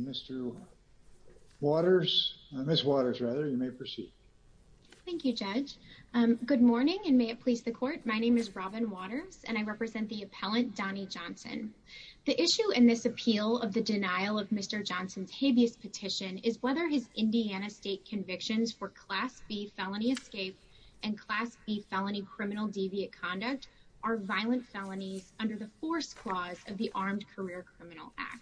Mr. Waters, Ms. Waters rather, you may proceed. Thank you, Judge. Good morning, and may it please the Court. My name is Robin Waters, and I represent the appellant Donnie Johnson. The issue in this appeal of the denial of Mr. Johnson's habeas petition is whether his Indiana state convictions for Class B felony escape and Class B felony criminal deviant conduct are violent felonies under the force clause of the Armed Career Criminal Act.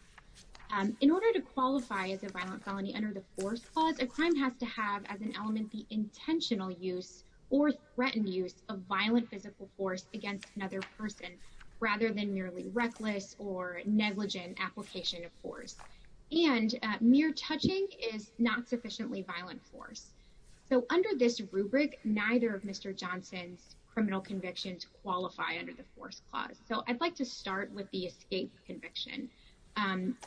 In order to qualify as a violent felony under the force clause, a crime has to have as an element the intentional use or threatened use of violent physical force against another person rather than reckless or negligent application of force. And mere touching is not sufficiently violent force. So under this rubric, neither of Mr. Johnson's criminal convictions qualify under the force clause. So I'd like to start with the escape conviction.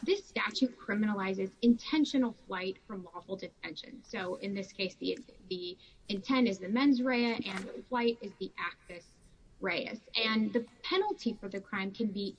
This statute criminalizes intentional flight from lawful detention. So in this case, the intent is the mens rea and the flight is the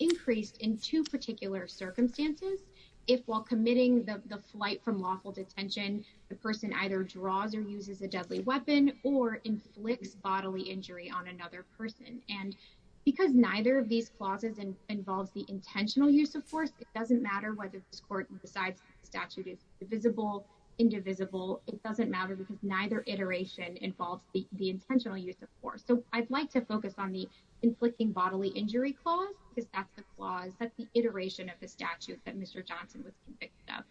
increased in two particular circumstances. If while committing the flight from lawful detention, the person either draws or uses a deadly weapon or inflicts bodily injury on another person. And because neither of these clauses involves the intentional use of force, it doesn't matter whether this court decides the statute is divisible, indivisible. It doesn't matter because neither iteration involves the intentional use of force. So I'd like to focus on the clause that the iteration of the statute that Mr. Johnson was convicted of.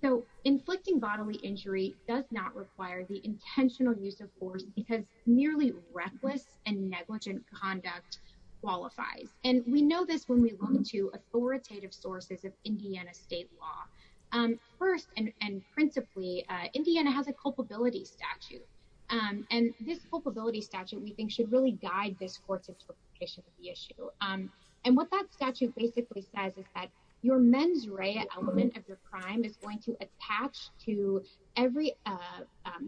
So inflicting bodily injury does not require the intentional use of force because nearly reckless and negligent conduct qualifies. And we know this when we look into authoritative sources of Indiana state law. First and principally, Indiana has a culpability statute. And this culpability statute we think should really guide this court's interpretation of the issue. And what that statute basically says is that your mens rea element of your crime is going to attach to every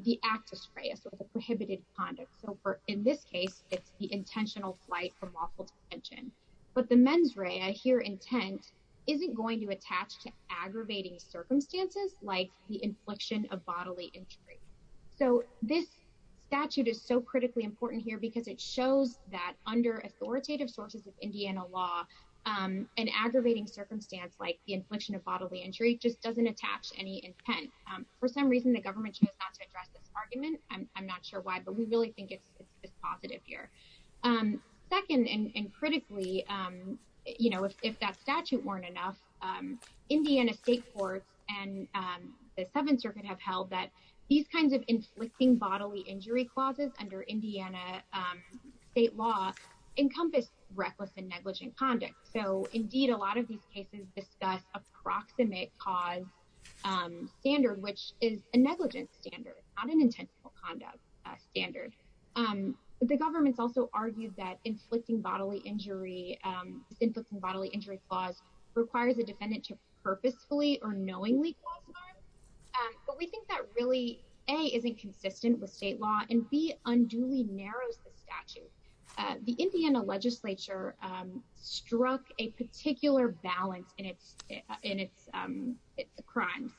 the actus rea, so the prohibited conduct. So in this case, it's the intentional flight from lawful detention. But the mens rea here intent isn't going to attach to aggravating circumstances like the that under authoritative sources of Indiana law, an aggravating circumstance like the infliction of bodily injury just doesn't attach any intent. For some reason, the government chose not to address this argument. I'm not sure why, but we really think it's positive here. Second, and critically, you know, if that statute weren't enough, Indiana state courts and the Seventh Circuit have held that these kinds of inflicting bodily injury clauses under Indiana state law encompass reckless and negligent conduct. So indeed, a lot of these cases discuss approximate cause standard, which is a negligent standard, not an intentional conduct standard. The government's also argued that inflicting bodily injury, inflicting bodily injury clause requires a defendant to purposefully or knowingly cause harm. But we think that really, A, isn't consistent with state law and B, unduly narrows the statute. The Indiana legislature struck a particular balance in its crimes.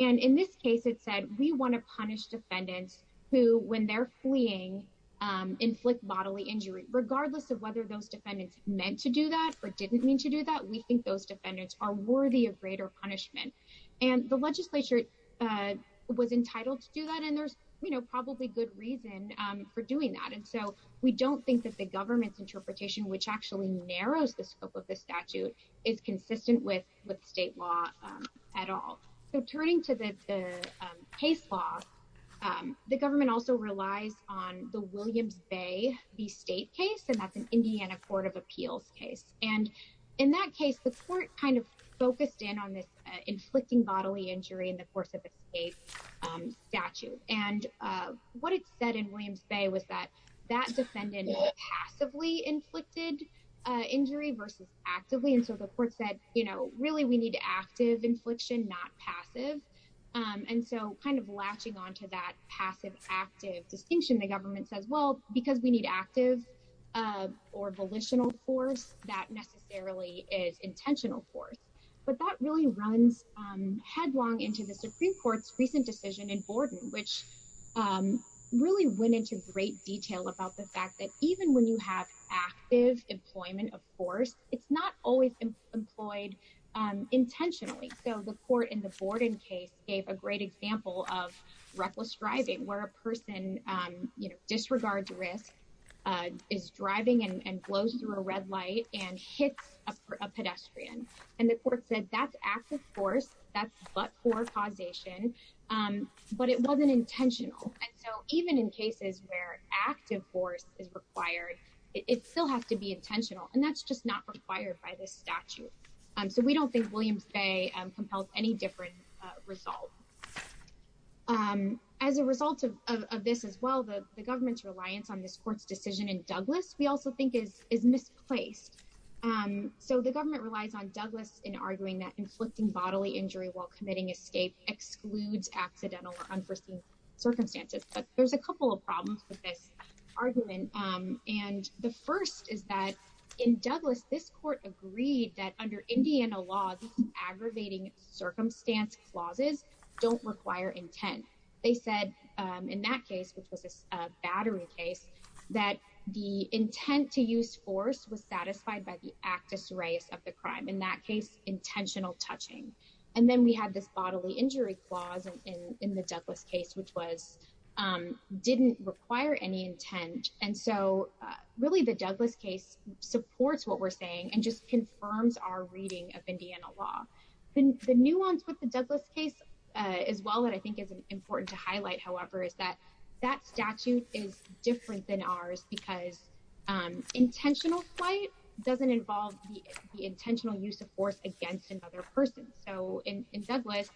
And in this case, it said we want to punish defendants who, when they're fleeing, inflict bodily injury. Regardless of whether those defendants meant to do that or didn't mean to do that, we think those defendants are worthy of greater punishment. And the legislature was entitled to do that. And there's, you know, probably good reason for doing that. And so we don't think that the government's interpretation, which actually narrows the scope of the statute, is consistent with state law at all. So turning to the case law, the government also relies on the Williams Bay v. State case, that's an Indiana Court of Appeals case. And in that case, the court kind of focused in on this inflicting bodily injury in the course of a state statute. And what it said in Williams Bay was that that defendant passively inflicted injury versus actively. And so the court said, you know, really we need active infliction, not passive. And so kind of latching onto that passive active distinction, the government says, well, because we need active or volitional force, that necessarily is intentional force. But that really runs headlong into the Supreme Court's recent decision in Borden, which really went into great detail about the fact that even when you have active employment, of course, it's not always employed intentionally. So the court in the Borden case gave a great example of reckless driving where a person, you know, disregards risk, is driving and blows through a red light and hits a pedestrian. And the court said that's active force, that's but-for causation, but it wasn't intentional. And so even in cases where active force is required, it still has to be intentional. And that's just not required by this statute. So we don't think Williams Bay compels any different result. As a result of this as well, the government's reliance on this court's decision in Douglas, we also think is misplaced. So the government relies on Douglas in arguing that inflicting bodily injury while committing escape excludes accidental or unforeseen circumstances. But there's a couple of problems with this argument. And the first is that in Indiana law, aggravating circumstance clauses don't require intent. They said in that case, which was a battery case, that the intent to use force was satisfied by the actus reus of the crime, in that case, intentional touching. And then we had this bodily injury clause in the Douglas case, didn't require any intent. And so really the Douglas case supports what we're saying and just Indiana law. The nuance with the Douglas case as well that I think is important to highlight, however, is that that statute is different than ours because intentional flight doesn't involve the intentional use of force against another person. So in Douglas,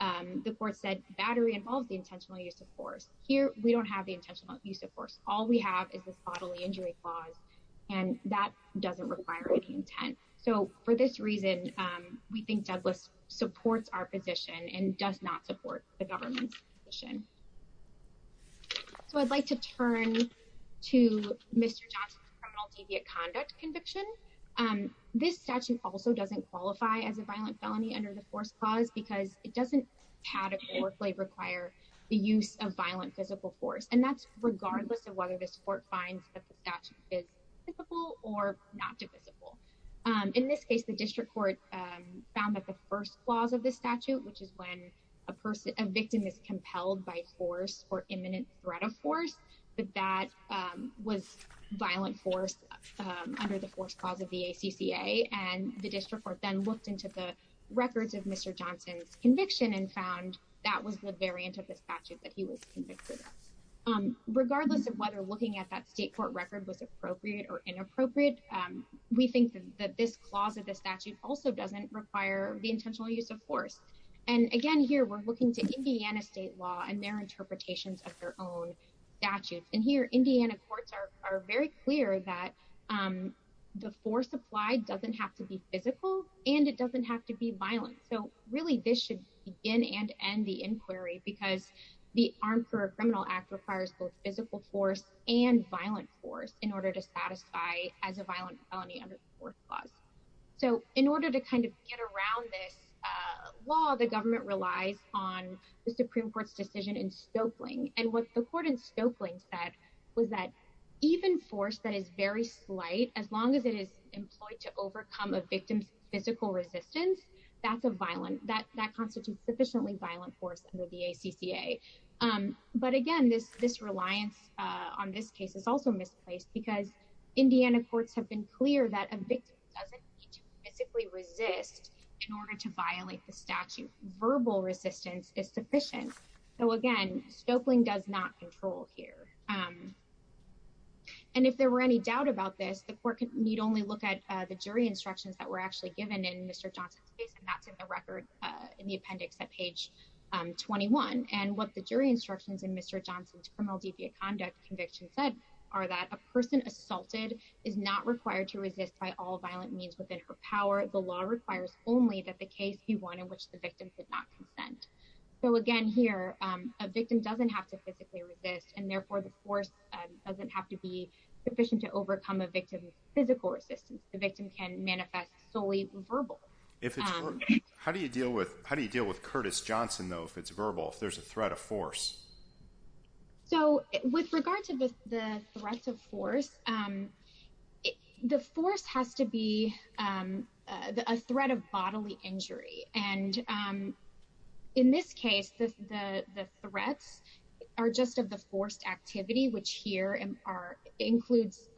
the court said battery involves the intentional use of force. Here, we don't have the intentional use of force. All we have is this bodily injury clause, and that doesn't require any intent. So for this reason, we think Douglas supports our position and does not support the government's position. So I'd like to turn to Mr. Johnson's criminal deviant conduct conviction. This statute also doesn't qualify as a violent felony under the force clause because it doesn't categorically require the use of violent physical force. And that's regardless of whether this court finds that the statute is typical or not divisible. In this case, the district court found that the first clause of this statute, which is when a person, a victim is compelled by force or imminent threat of force, that that was violent force under the force clause of the ACCA. And the district court then looked into the records of Mr. Johnson's conviction and found that was the variant of the statute that he was convicted of. Regardless of whether looking at that state court record was appropriate or inappropriate, we think that this clause of the statute also doesn't require the intentional use of force. And again, here, we're looking to Indiana state law and their interpretations of their own statutes. And here, Indiana courts are very clear that the force applied doesn't have to be physical, and it doesn't have to be violent. So really, this should begin and end the inquiry because the arm for a criminal act requires both physical force and violent force in order to satisfy as a violent felony under the fourth clause. So in order to kind of get around this law, the government relies on the Supreme Court's decision in Stokely. And what the court in Stokely said was that even force that is very slight, as long as it is employed to overcome a victim's physical resistance, that constitutes sufficiently violent force under the ACCA. But again, this reliance on this case is also misplaced because Indiana courts have been clear that a victim doesn't need to physically resist in order to violate the here. And if there were any doubt about this, the court need only look at the jury instructions that were actually given in Mr. Johnson's case, and that's in the record in the appendix at page 21. And what the jury instructions in Mr. Johnson's criminal deviant conduct conviction said are that a person assaulted is not required to resist by all violent means within her power. The law requires only that the case be one in which the victim could not consent. So again, here, a victim doesn't have to physically resist, and therefore, the force doesn't have to be sufficient to overcome a victim's physical resistance. The victim can manifest solely verbal. How do you deal with Curtis Johnson, though, if it's verbal, if there's a threat of force? So with regard to the threat of force, the force has to be a threat of bodily injury. And in this case, the threats are just of the forced activity, which here includes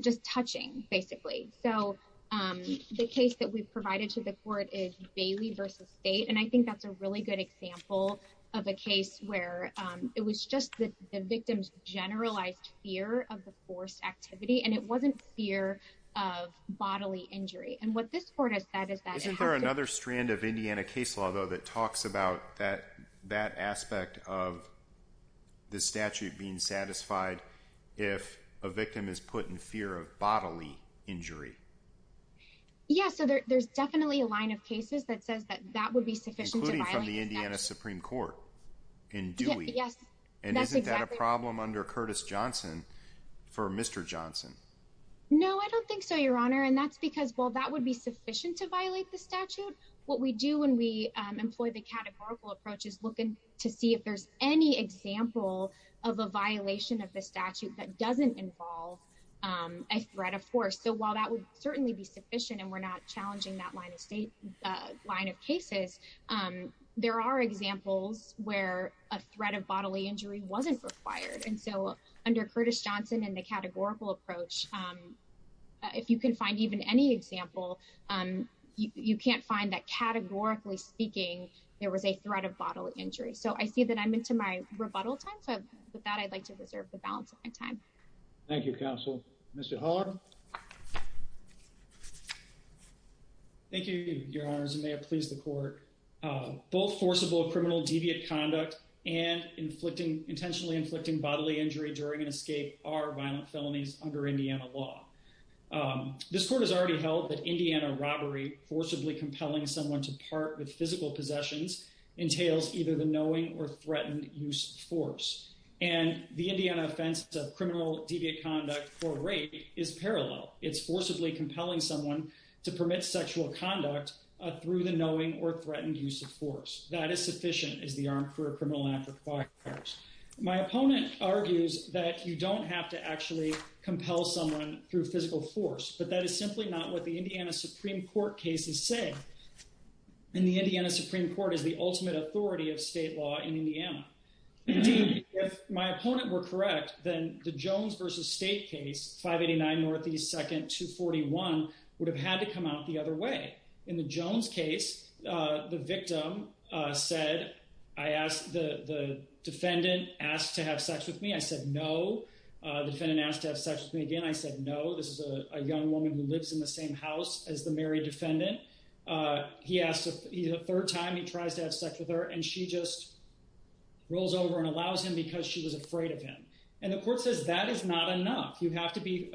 just touching, basically. So the case that we've provided to the court is Bailey v. State, and I think that's a really good example of a case where it was just the victim's generalized fear of the forced activity, and it wasn't fear of bodily injury. And what this court has said is Isn't there another strand of Indiana case law, though, that talks about that aspect of the statute being satisfied if a victim is put in fear of bodily injury? Yeah, so there's definitely a line of cases that says that that would be sufficient. Including from the Indiana Supreme Court in Dewey. Yes. And isn't that a problem under Curtis Johnson for Mr. Johnson? No, I don't think so, Your Honor. And that's because, well, that would be sufficient to violate the statute. What we do when we employ the categorical approach is look to see if there's any example of a violation of the statute that doesn't involve a threat of force. So while that would certainly be sufficient, and we're not challenging that line of cases, there are examples where a threat of bodily injury wasn't required. And so under Curtis Johnson and the you can't find that categorically speaking, there was a threat of bodily injury. So I see that I'm into my rebuttal time. So with that, I'd like to reserve the balance of my time. Thank you, counsel. Mr. Haller. Thank you, Your Honor. As you may have pleased the court, both forcible criminal deviant conduct and intentionally inflicting bodily injury during an escape are violent felonies under Indiana law. This court has already held that Indiana robbery forcibly compelling someone to part with physical possessions entails either the knowing or threatened use of force. And the Indiana offense of criminal deviant conduct for rape is parallel. It's forcibly compelling someone to permit sexual conduct through the knowing or threatened use of force. That is sufficient as the Armed Career Criminal Act requires. My opponent argues that you don't have to actually compel someone through physical force, but that is simply not what the Indiana Supreme Court cases say. And the Indiana Supreme Court is the ultimate authority of state law in Indiana. Indeed, if my opponent were correct, then the Jones versus State case, 589 Northeast 2nd, 241 would have had to come out the other way. In the Jones case, the victim said, I asked the defendant asked to have sex with me. I said, no. The defendant asked to have sex with me again. I said, no. This is a young woman who lives in the same house as the married defendant. He asked a third time. He tries to have sex with her, and she just rolls over and allows him because she was afraid of him. And the court says that is not enough. You have to be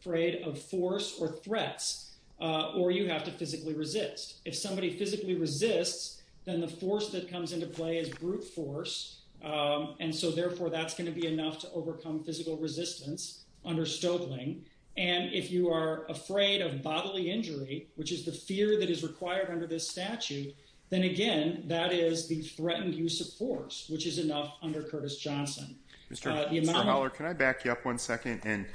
afraid of force or threats, or you have to physically resist. If somebody physically resists, then the force that comes into play is brute force. And so, therefore, that's going to be enough to overcome physical resistance under Stoeckling. And if you are afraid of bodily injury, which is the fear that is required under this statute, then again, that is the threatened use of force, which is enough under Curtis Johnson. Mr. Howler, can I back you up one second? And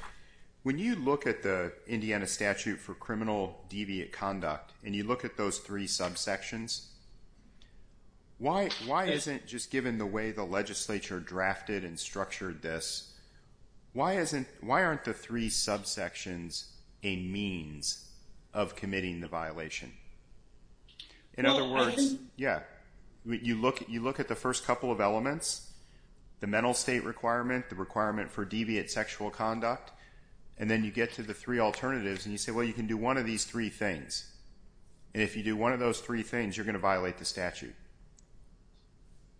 when you look at the Indiana statute for criminal deviant conduct, and you look at those three subsections, why isn't just why aren't the three subsections a means of committing the violation? In other words, yeah, you look at the first couple of elements, the mental state requirement, the requirement for deviant sexual conduct, and then you get to the three alternatives, and you say, well, you can do one of these three things. And if you do one of those three things, you're going to violate the statute.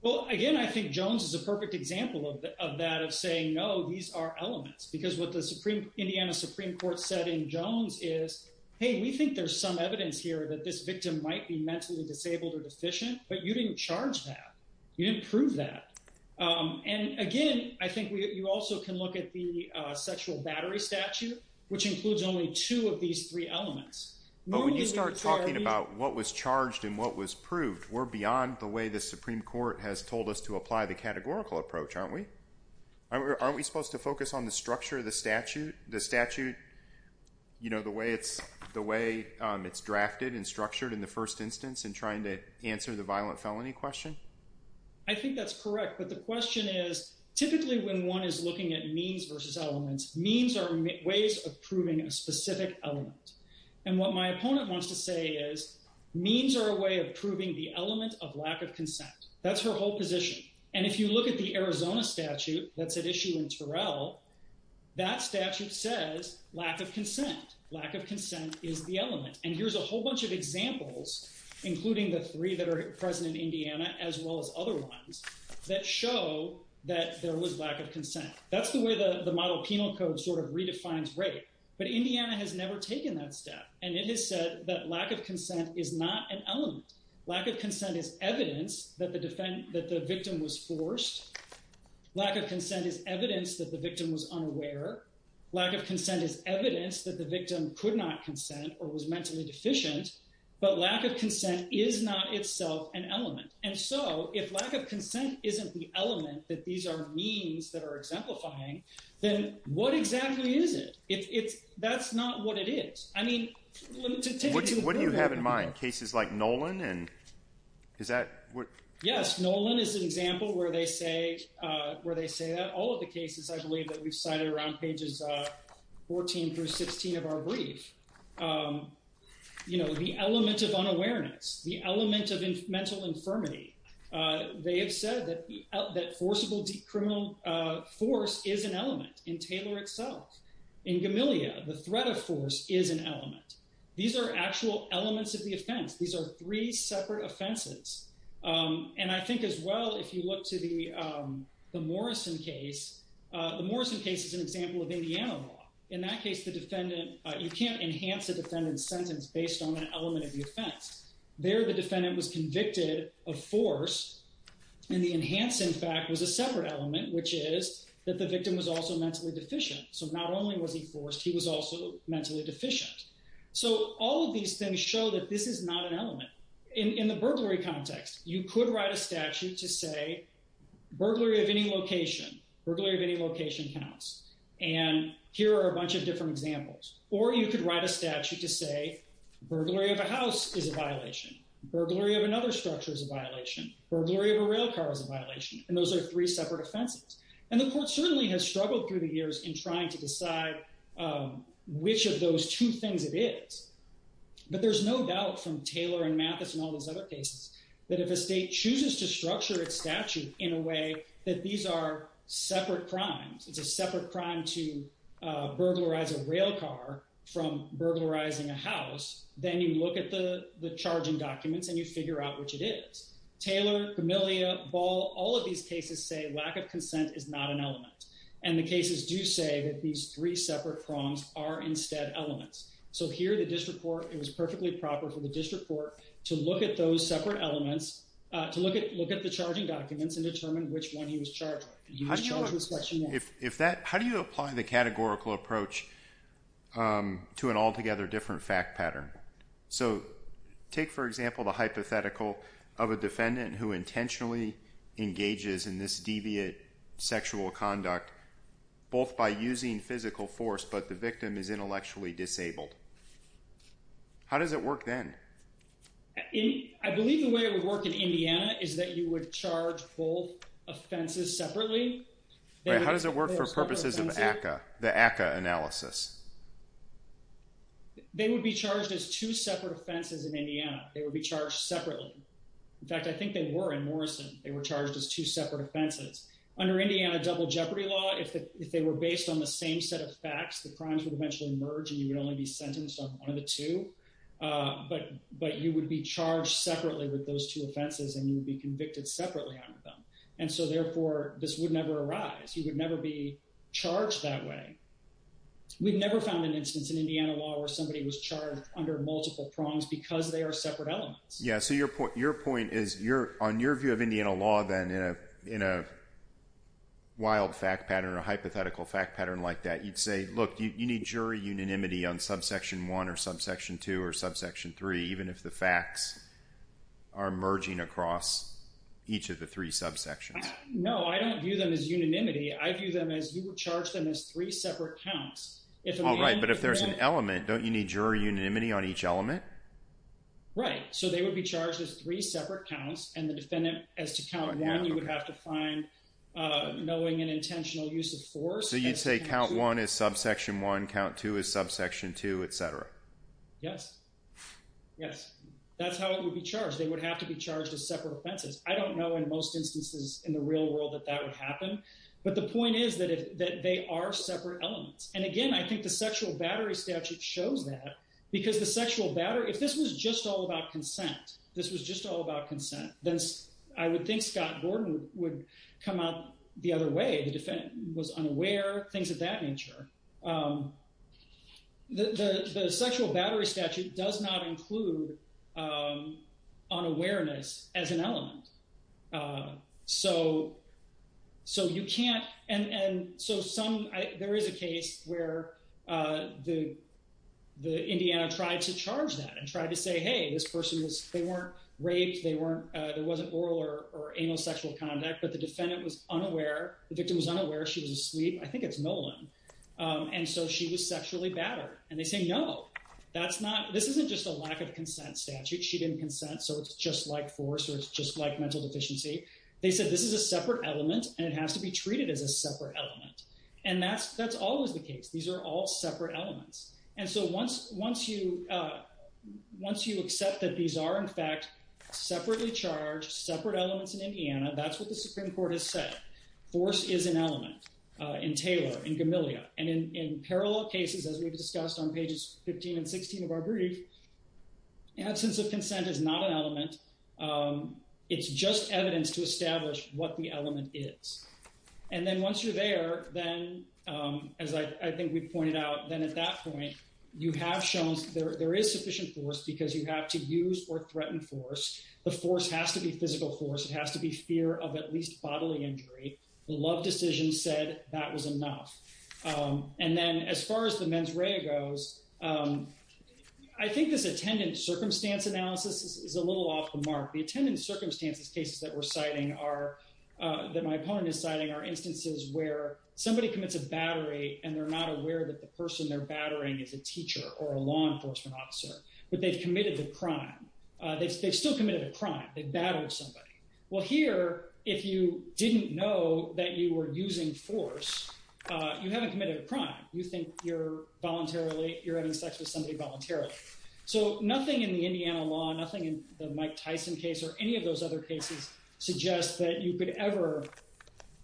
Well, again, I think Jones is a perfect example of that of saying, no, these are elements. Because what the Indiana Supreme Court said in Jones is, hey, we think there's some evidence here that this victim might be mentally disabled or deficient, but you didn't charge that. You didn't prove that. And again, I think you also can look at the sexual battery statute, which includes only two of these three elements. But when you start talking about what was charged and what was proved, we're beyond the way the Aren't we supposed to focus on the structure of the statute, the statute, you know, the way it's drafted and structured in the first instance in trying to answer the violent felony question? I think that's correct. But the question is, typically when one is looking at means versus elements, means are ways of proving a specific element. And what my opponent wants to say is, means are a way of proving the element of lack of consent. That's her whole position. And if you look at the Arizona statute that's at issue in Terrell, that statute says lack of consent. Lack of consent is the element. And here's a whole bunch of examples, including the three that are present in Indiana, as well as other ones that show that there was lack of consent. That's the way the model penal code sort of redefines rape. But Indiana has never taken that step. And it has said that lack of consent is not an element. Lack of consent is evidence that the victim was forced. Lack of consent is evidence that the victim was unaware. Lack of consent is evidence that the victim could not consent or was mentally deficient. But lack of consent is not itself an element. And so if lack of consent isn't the element that these are means that are exemplifying, then what exactly is it? That's not what it is. What do you have in mind? Cases like Nolan? Yes, Nolan is an example where they say that. All of the cases I believe that we've cited around pages 14 through 16 of our brief. The element of unawareness, the element of mental infirmity, they have said that forcible criminal force is an element in Taylor itself. In Gamillia, the threat of force is an element. These are actual elements of the offense. These are three separate offenses. And I think as well, if you look to the Morrison case, the Morrison case is an example of Indiana law. In that case, the defendant, you can't enhance a defendant's sentence based on an element of the offense. There, the defendant was convicted of force. And the enhance, in fact, was a separate element, which is that the victim was also mentally deficient. So all of these things show that this is not an element. In the burglary context, you could write a statute to say burglary of any location, burglary of any location counts. And here are a bunch of different examples. Or you could write a statute to say burglary of a house is a violation, burglary of another structure is a violation, burglary of a rail car is a violation. And those are three separate offenses. And the which of those two things it is. But there's no doubt from Taylor and Mathis and all these other cases that if a state chooses to structure its statute in a way that these are separate crimes, it's a separate crime to burglarize a rail car from burglarizing a house, then you look at the charging documents and you figure out which it is. Taylor, Gamillia, Ball, all of these cases say lack of consent is not an element. And the cases do say that these three separate crimes are instead elements. So here the district court, it was perfectly proper for the district court to look at those separate elements, to look at the charging documents and determine which one he was charged with. How do you apply the categorical approach to an altogether different fact pattern? So take, for example, the hypothetical of a defendant who intentionally engages in this deviant sexual conduct, both by using physical force, but the victim is intellectually disabled. How does it work then? I believe the way it would work in Indiana is that you would charge both offenses separately. How does it work for purposes of ACCA, the ACCA analysis? They would be charged as two separate offenses in Indiana. They would be charged separately. In fact, I think they were in Morrison. They were charged as two separate offenses. Under Indiana double jeopardy law, if they were based on the same set of facts, the crimes would eventually merge and you would only be sentenced on one of the two. But you would be charged separately with those two offenses and you would be convicted separately under them. And so therefore, this would never arise. You would never be charged that way. We've never found an instance in Indiana law where somebody was charged under multiple prongs because they are separate elements. Yeah, so your point is, on your view of Indiana law then, in a wild fact pattern, a hypothetical fact pattern like that, you'd say, look, you need jury unanimity on subsection one or subsection two or subsection three, even if the facts are merging across each of the three subsections. No, I don't view them as unanimity. I view them as you would charge them as three separate counts. All right, but if there's an element, don't you need jury unanimity on each element? Right, so they would be charged as three separate counts and the defendant, as to count one, you would have to find knowing an intentional use of force. So you'd say count one is subsection one, count two is subsection two, etc. Yes, yes, that's how it would be charged. They would have to be charged as separate offenses. I don't know in most instances in the real world that that would happen, but the point is that they are separate elements. And again, I think the sexual battery statute shows that because the sexual battery, if this was just all about consent, this was just all about consent, then I would think Scott Gordon would come out the other way. The defendant was unaware, things of that nature. The sexual battery statute does not include unawareness as an element. So you can't, and so some, there is a case where the Indiana tried to charge that and tried to say, hey, this person was, they weren't raped, they weren't, there wasn't oral or anal sexual conduct, but the defendant was unaware, the victim was unaware, she was asleep. I think it's Nolan. And so she was sexually battered and they say, no, that's not, this isn't just a lack of consent statute. She didn't consent. So it's just like force or it's just like mental deficiency. They said, this is a separate element and it has to be treated as a separate element. And that's always the case. These are all separate elements. And so once you accept that these are, in fact, separately charged, separate elements in Indiana, that's what the Supreme Court has said. Force is an element in Taylor, in Gamilia. And in parallel cases, as we've discussed on pages 15 and 16 of our brief, absence of consent is not an element. It's just evidence to establish what the element is. And then once you're there, then as I think we pointed out, then at that point, you have shown there is sufficient force because you have to use or threaten force. The force has to be physical force. It has to be fear of at least bodily injury. The love decision said that was enough. And then as far as the mens rea goes, I think this attendant circumstance analysis is a little off the mark. The attendant circumstances cases that we're citing are, that my opponent is citing are instances where somebody commits a battery and they're not aware that the person they're battering is a teacher or a law enforcement officer, but they've committed the crime. They've still committed a crime. They battled somebody. Well here, if you didn't know that you were using force, you haven't committed a crime. You think you're voluntarily, you're having sex with somebody voluntarily. So nothing in the Indiana law, nothing in the Mike Tyson case or any of those other cases suggests that you could ever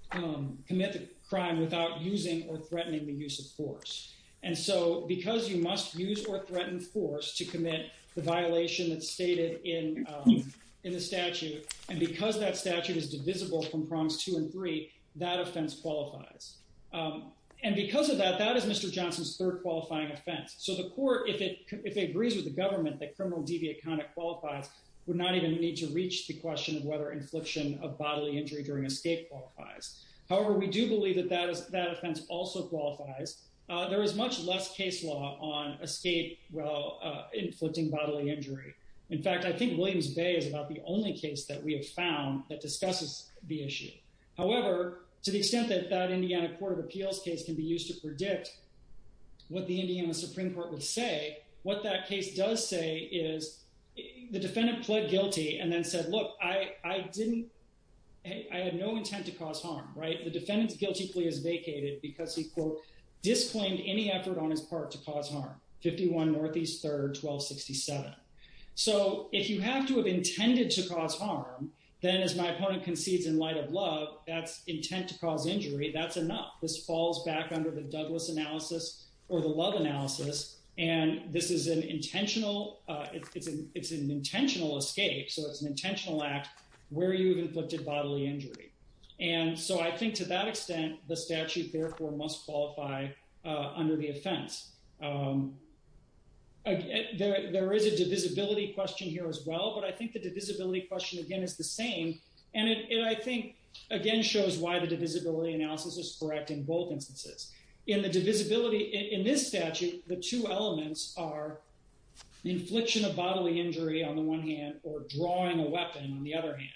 commit the crime without using or threatening the use of force. And so because you must use or threaten force to commit the violation that's stated in the statute, and because that statute is divisible from prompts two and three, that offense qualifies. And because of that, that is Mr. Johnson's third qualifying offense. So the court, if it agrees with the government that criminal deviant conduct qualifies, would not even need to reach the question of whether infliction of bodily injury during escape qualifies. However, we do believe that that offense also qualifies. There is much less case law on escape inflicting bodily injury. In fact, I think Williams Bay is about the only case that we have found that discusses the issue. However, to the extent that that Indiana Court of Appeals case can be used to predict what the Indiana Supreme Court would say, what that case does say is the defendant pled guilty and then said, look, I had no intent to cause harm, right? The defendant's guilty plea is vacated because he, quote, disclaimed any effort on his part to cause harm. 51 Northeast 3rd, 1267. So if you have to have intended to cause harm, then as my opponent concedes in light of love, that's intent to cause injury, that's enough. This falls back under the Douglas analysis or the love analysis, and this is an intentional, it's an intentional escape, so it's an intentional act where you've qualified under the offense. There is a divisibility question here as well, but I think the divisibility question again is the same, and it, I think, again, shows why the divisibility analysis is correct in both instances. In the divisibility, in this statute, the two elements are infliction of bodily injury on the one hand or drawing a weapon on the other hand.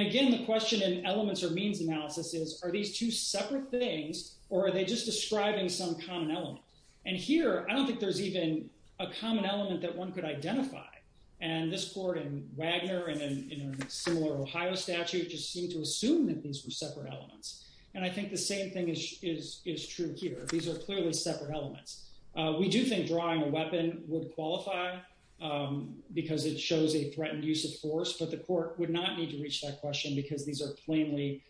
And again, the question in elements or means analysis is, are these two separate things or are they just describing some common element? And here, I don't think there's even a common element that one could identify. And this court in Wagner and in a similar Ohio statute just seemed to assume that these were separate elements. And I think the same thing is true here. These are clearly separate elements. We do think drawing a weapon would qualify because it shows a threatened use of force, but the court would not need to reach that question because these are plainly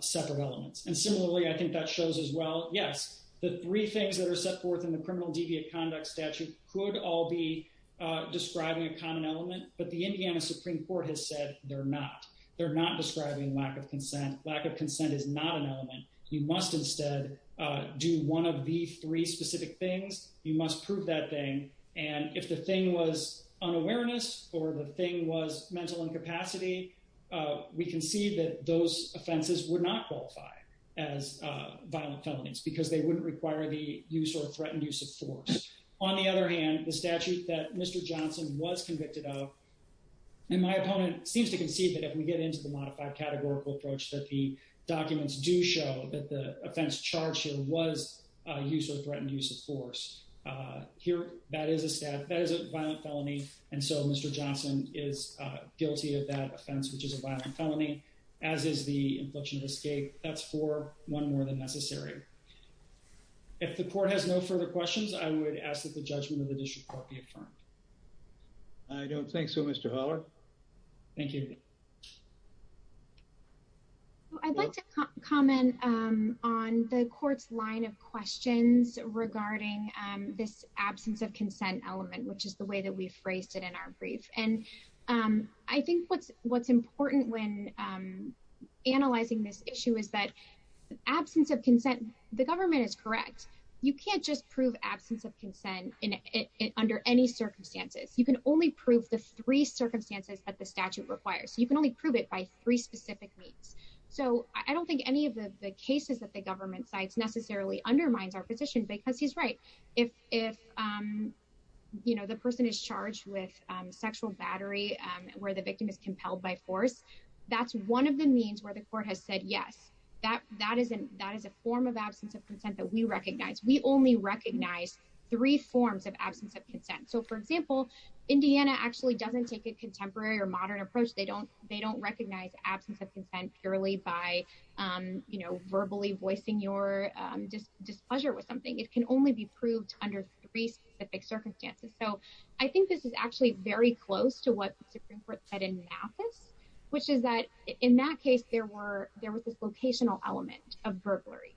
separate elements. And similarly, I think that shows as well, yes, the three things that are set forth in the criminal deviant conduct statute could all be describing a common element, but the Indiana Supreme Court has said they're not. They're not describing lack of consent. Lack of consent is not an element. You must instead do one of the three specific things. You must prove that thing. And if the thing was unawareness or the thing was mental incapacity, we can see that those offenses would not qualify as violent felonies because they wouldn't require the use or threatened use of force. On the other hand, the statute that Mr. Johnson was convicted of and my opponent seems to concede that if we get into the modified categorical approach that the offense charged here was a use of threatened use of force here, that is a violent felony. And so Mr. Johnson is guilty of that offense, which is a violent felony, as is the inflection of escape. That's for one more than necessary. If the court has no further questions, I would ask that the judgment of the district court be affirmed. I don't think so, Mr. Haller. Thank you. I'd like to comment on the court's line of questions regarding this absence of consent element, which is the way that we phrased it in our brief. And I think what's important when analyzing this issue is that absence of consent, the government is correct. You can't just prove absence of consent under any circumstances. You can only prove the three circumstances that the you can only prove it by three specific means. So I don't think any of the cases that the government cites necessarily undermines our position because he's right. If the person is charged with sexual battery where the victim is compelled by force, that's one of the means where the court has said, yes, that is a form of absence of consent that we recognize. We only recognize three forms of absence of consent. So for example, Indiana actually doesn't take a they don't recognize absence of consent purely by verbally voicing your displeasure with something. It can only be proved under three specific circumstances. So I think this is actually very close to what the Supreme Court said in Mathis, which is that in that case, there was this locational element of burglary.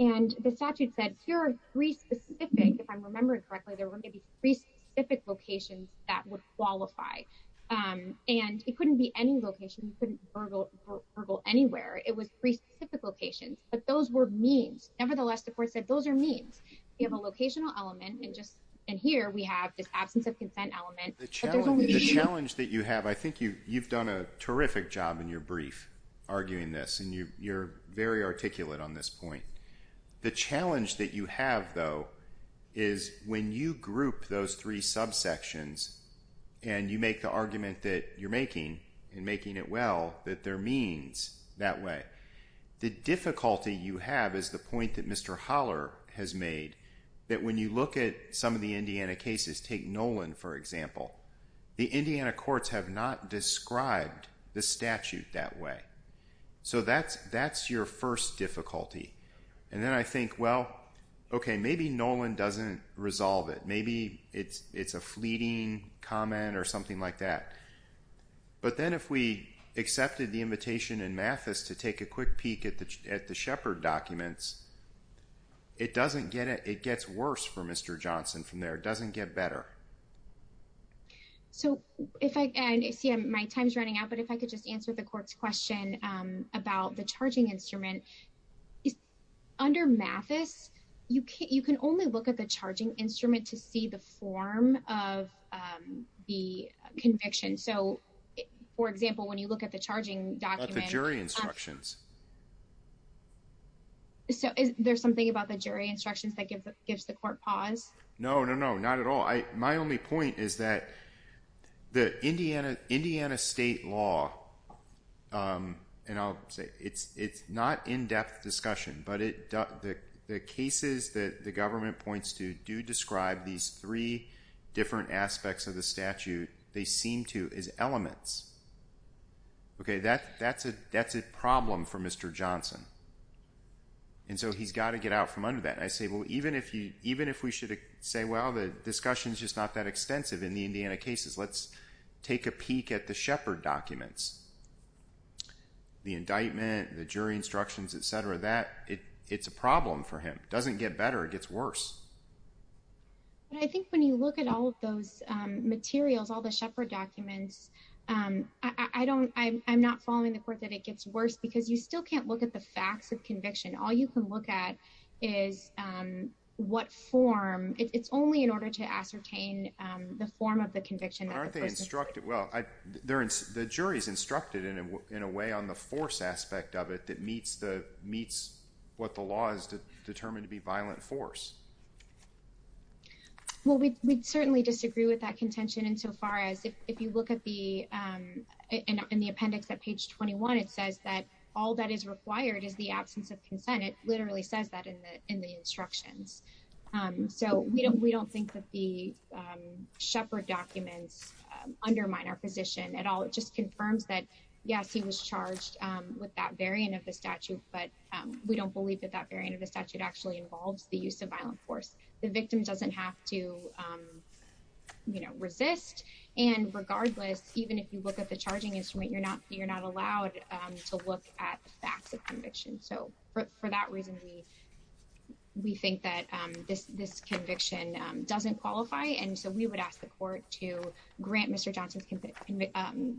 And the statute said here are three specific, if I'm remembering correctly, there were maybe three specific locations that would qualify. And it couldn't burgle anywhere. It was three specific locations, but those were means. Nevertheless, the court said, those are means you have a locational element. And just in here we have this absence of consent element. The challenge that you have, I think you've done a terrific job in your brief arguing this and you're very articulate on this point. The challenge that you have, though, is when you group those three subsections and you make the argument that you're making and making it well, that there means that way. The difficulty you have is the point that Mr. Holler has made, that when you look at some of the Indiana cases, take Nolan, for example, the Indiana courts have not described the statute that way. So that's your first difficulty. And then I think, well, okay, maybe Nolan doesn't resolve it. Maybe it's a fleeting comment or something like that. But then if we accepted the invitation in Mathis to take a quick peek at the Sheppard documents, it doesn't get it. It gets worse for Mr. Johnson from there. It doesn't get better. So if I see my time's running out, but if I could just answer the court's question about the charging instrument. Under Mathis, you can only look at the charging instrument to see the form of the conviction. So for example, when you look at the charging document- At the jury instructions. So is there something about the jury instructions that gives the court pause? No, no, no, not at all. My only point is that the Indiana state law, and I'll say it's not in-depth discussion, but the cases that the government points to describe these three different aspects of the statute, they seem to as elements. Okay, that's a problem for Mr. Johnson. And so he's got to get out from under that. And I say, well, even if we should say, well, the discussion's just not that extensive in the Indiana cases. Let's take a peek at the Sheppard documents. The indictment, the jury instructions, etc. It's a problem for him. It doesn't get better, it gets worse. But I think when you look at all of those materials, all the Sheppard documents, I'm not following the court that it gets worse because you still can't look at the facts of conviction. All you can look at is what form. It's only in order to ascertain the form of the conviction that the person- Aren't they instructed? Well, the jury's instructed in a way on the force aspect of it that meets what the law is determined to be violent force. Well, we'd certainly disagree with that contention insofar as if you look in the appendix at page 21, it says that all that is required is the absence of consent. It literally says that in the instructions. So we don't think that the at all. It just confirms that, yes, he was charged with that variant of the statute, but we don't believe that that variant of the statute actually involves the use of violent force. The victim doesn't have to resist. And regardless, even if you look at the charging instrument, you're not allowed to look at the facts of conviction. So for that reason, we think that this conviction doesn't qualify. And so we would ask the court to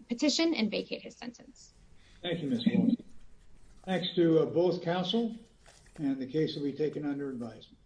petition and vacate his sentence. Thank you, Ms. Horton. Thanks to both counsel and the case will be taken under advisement.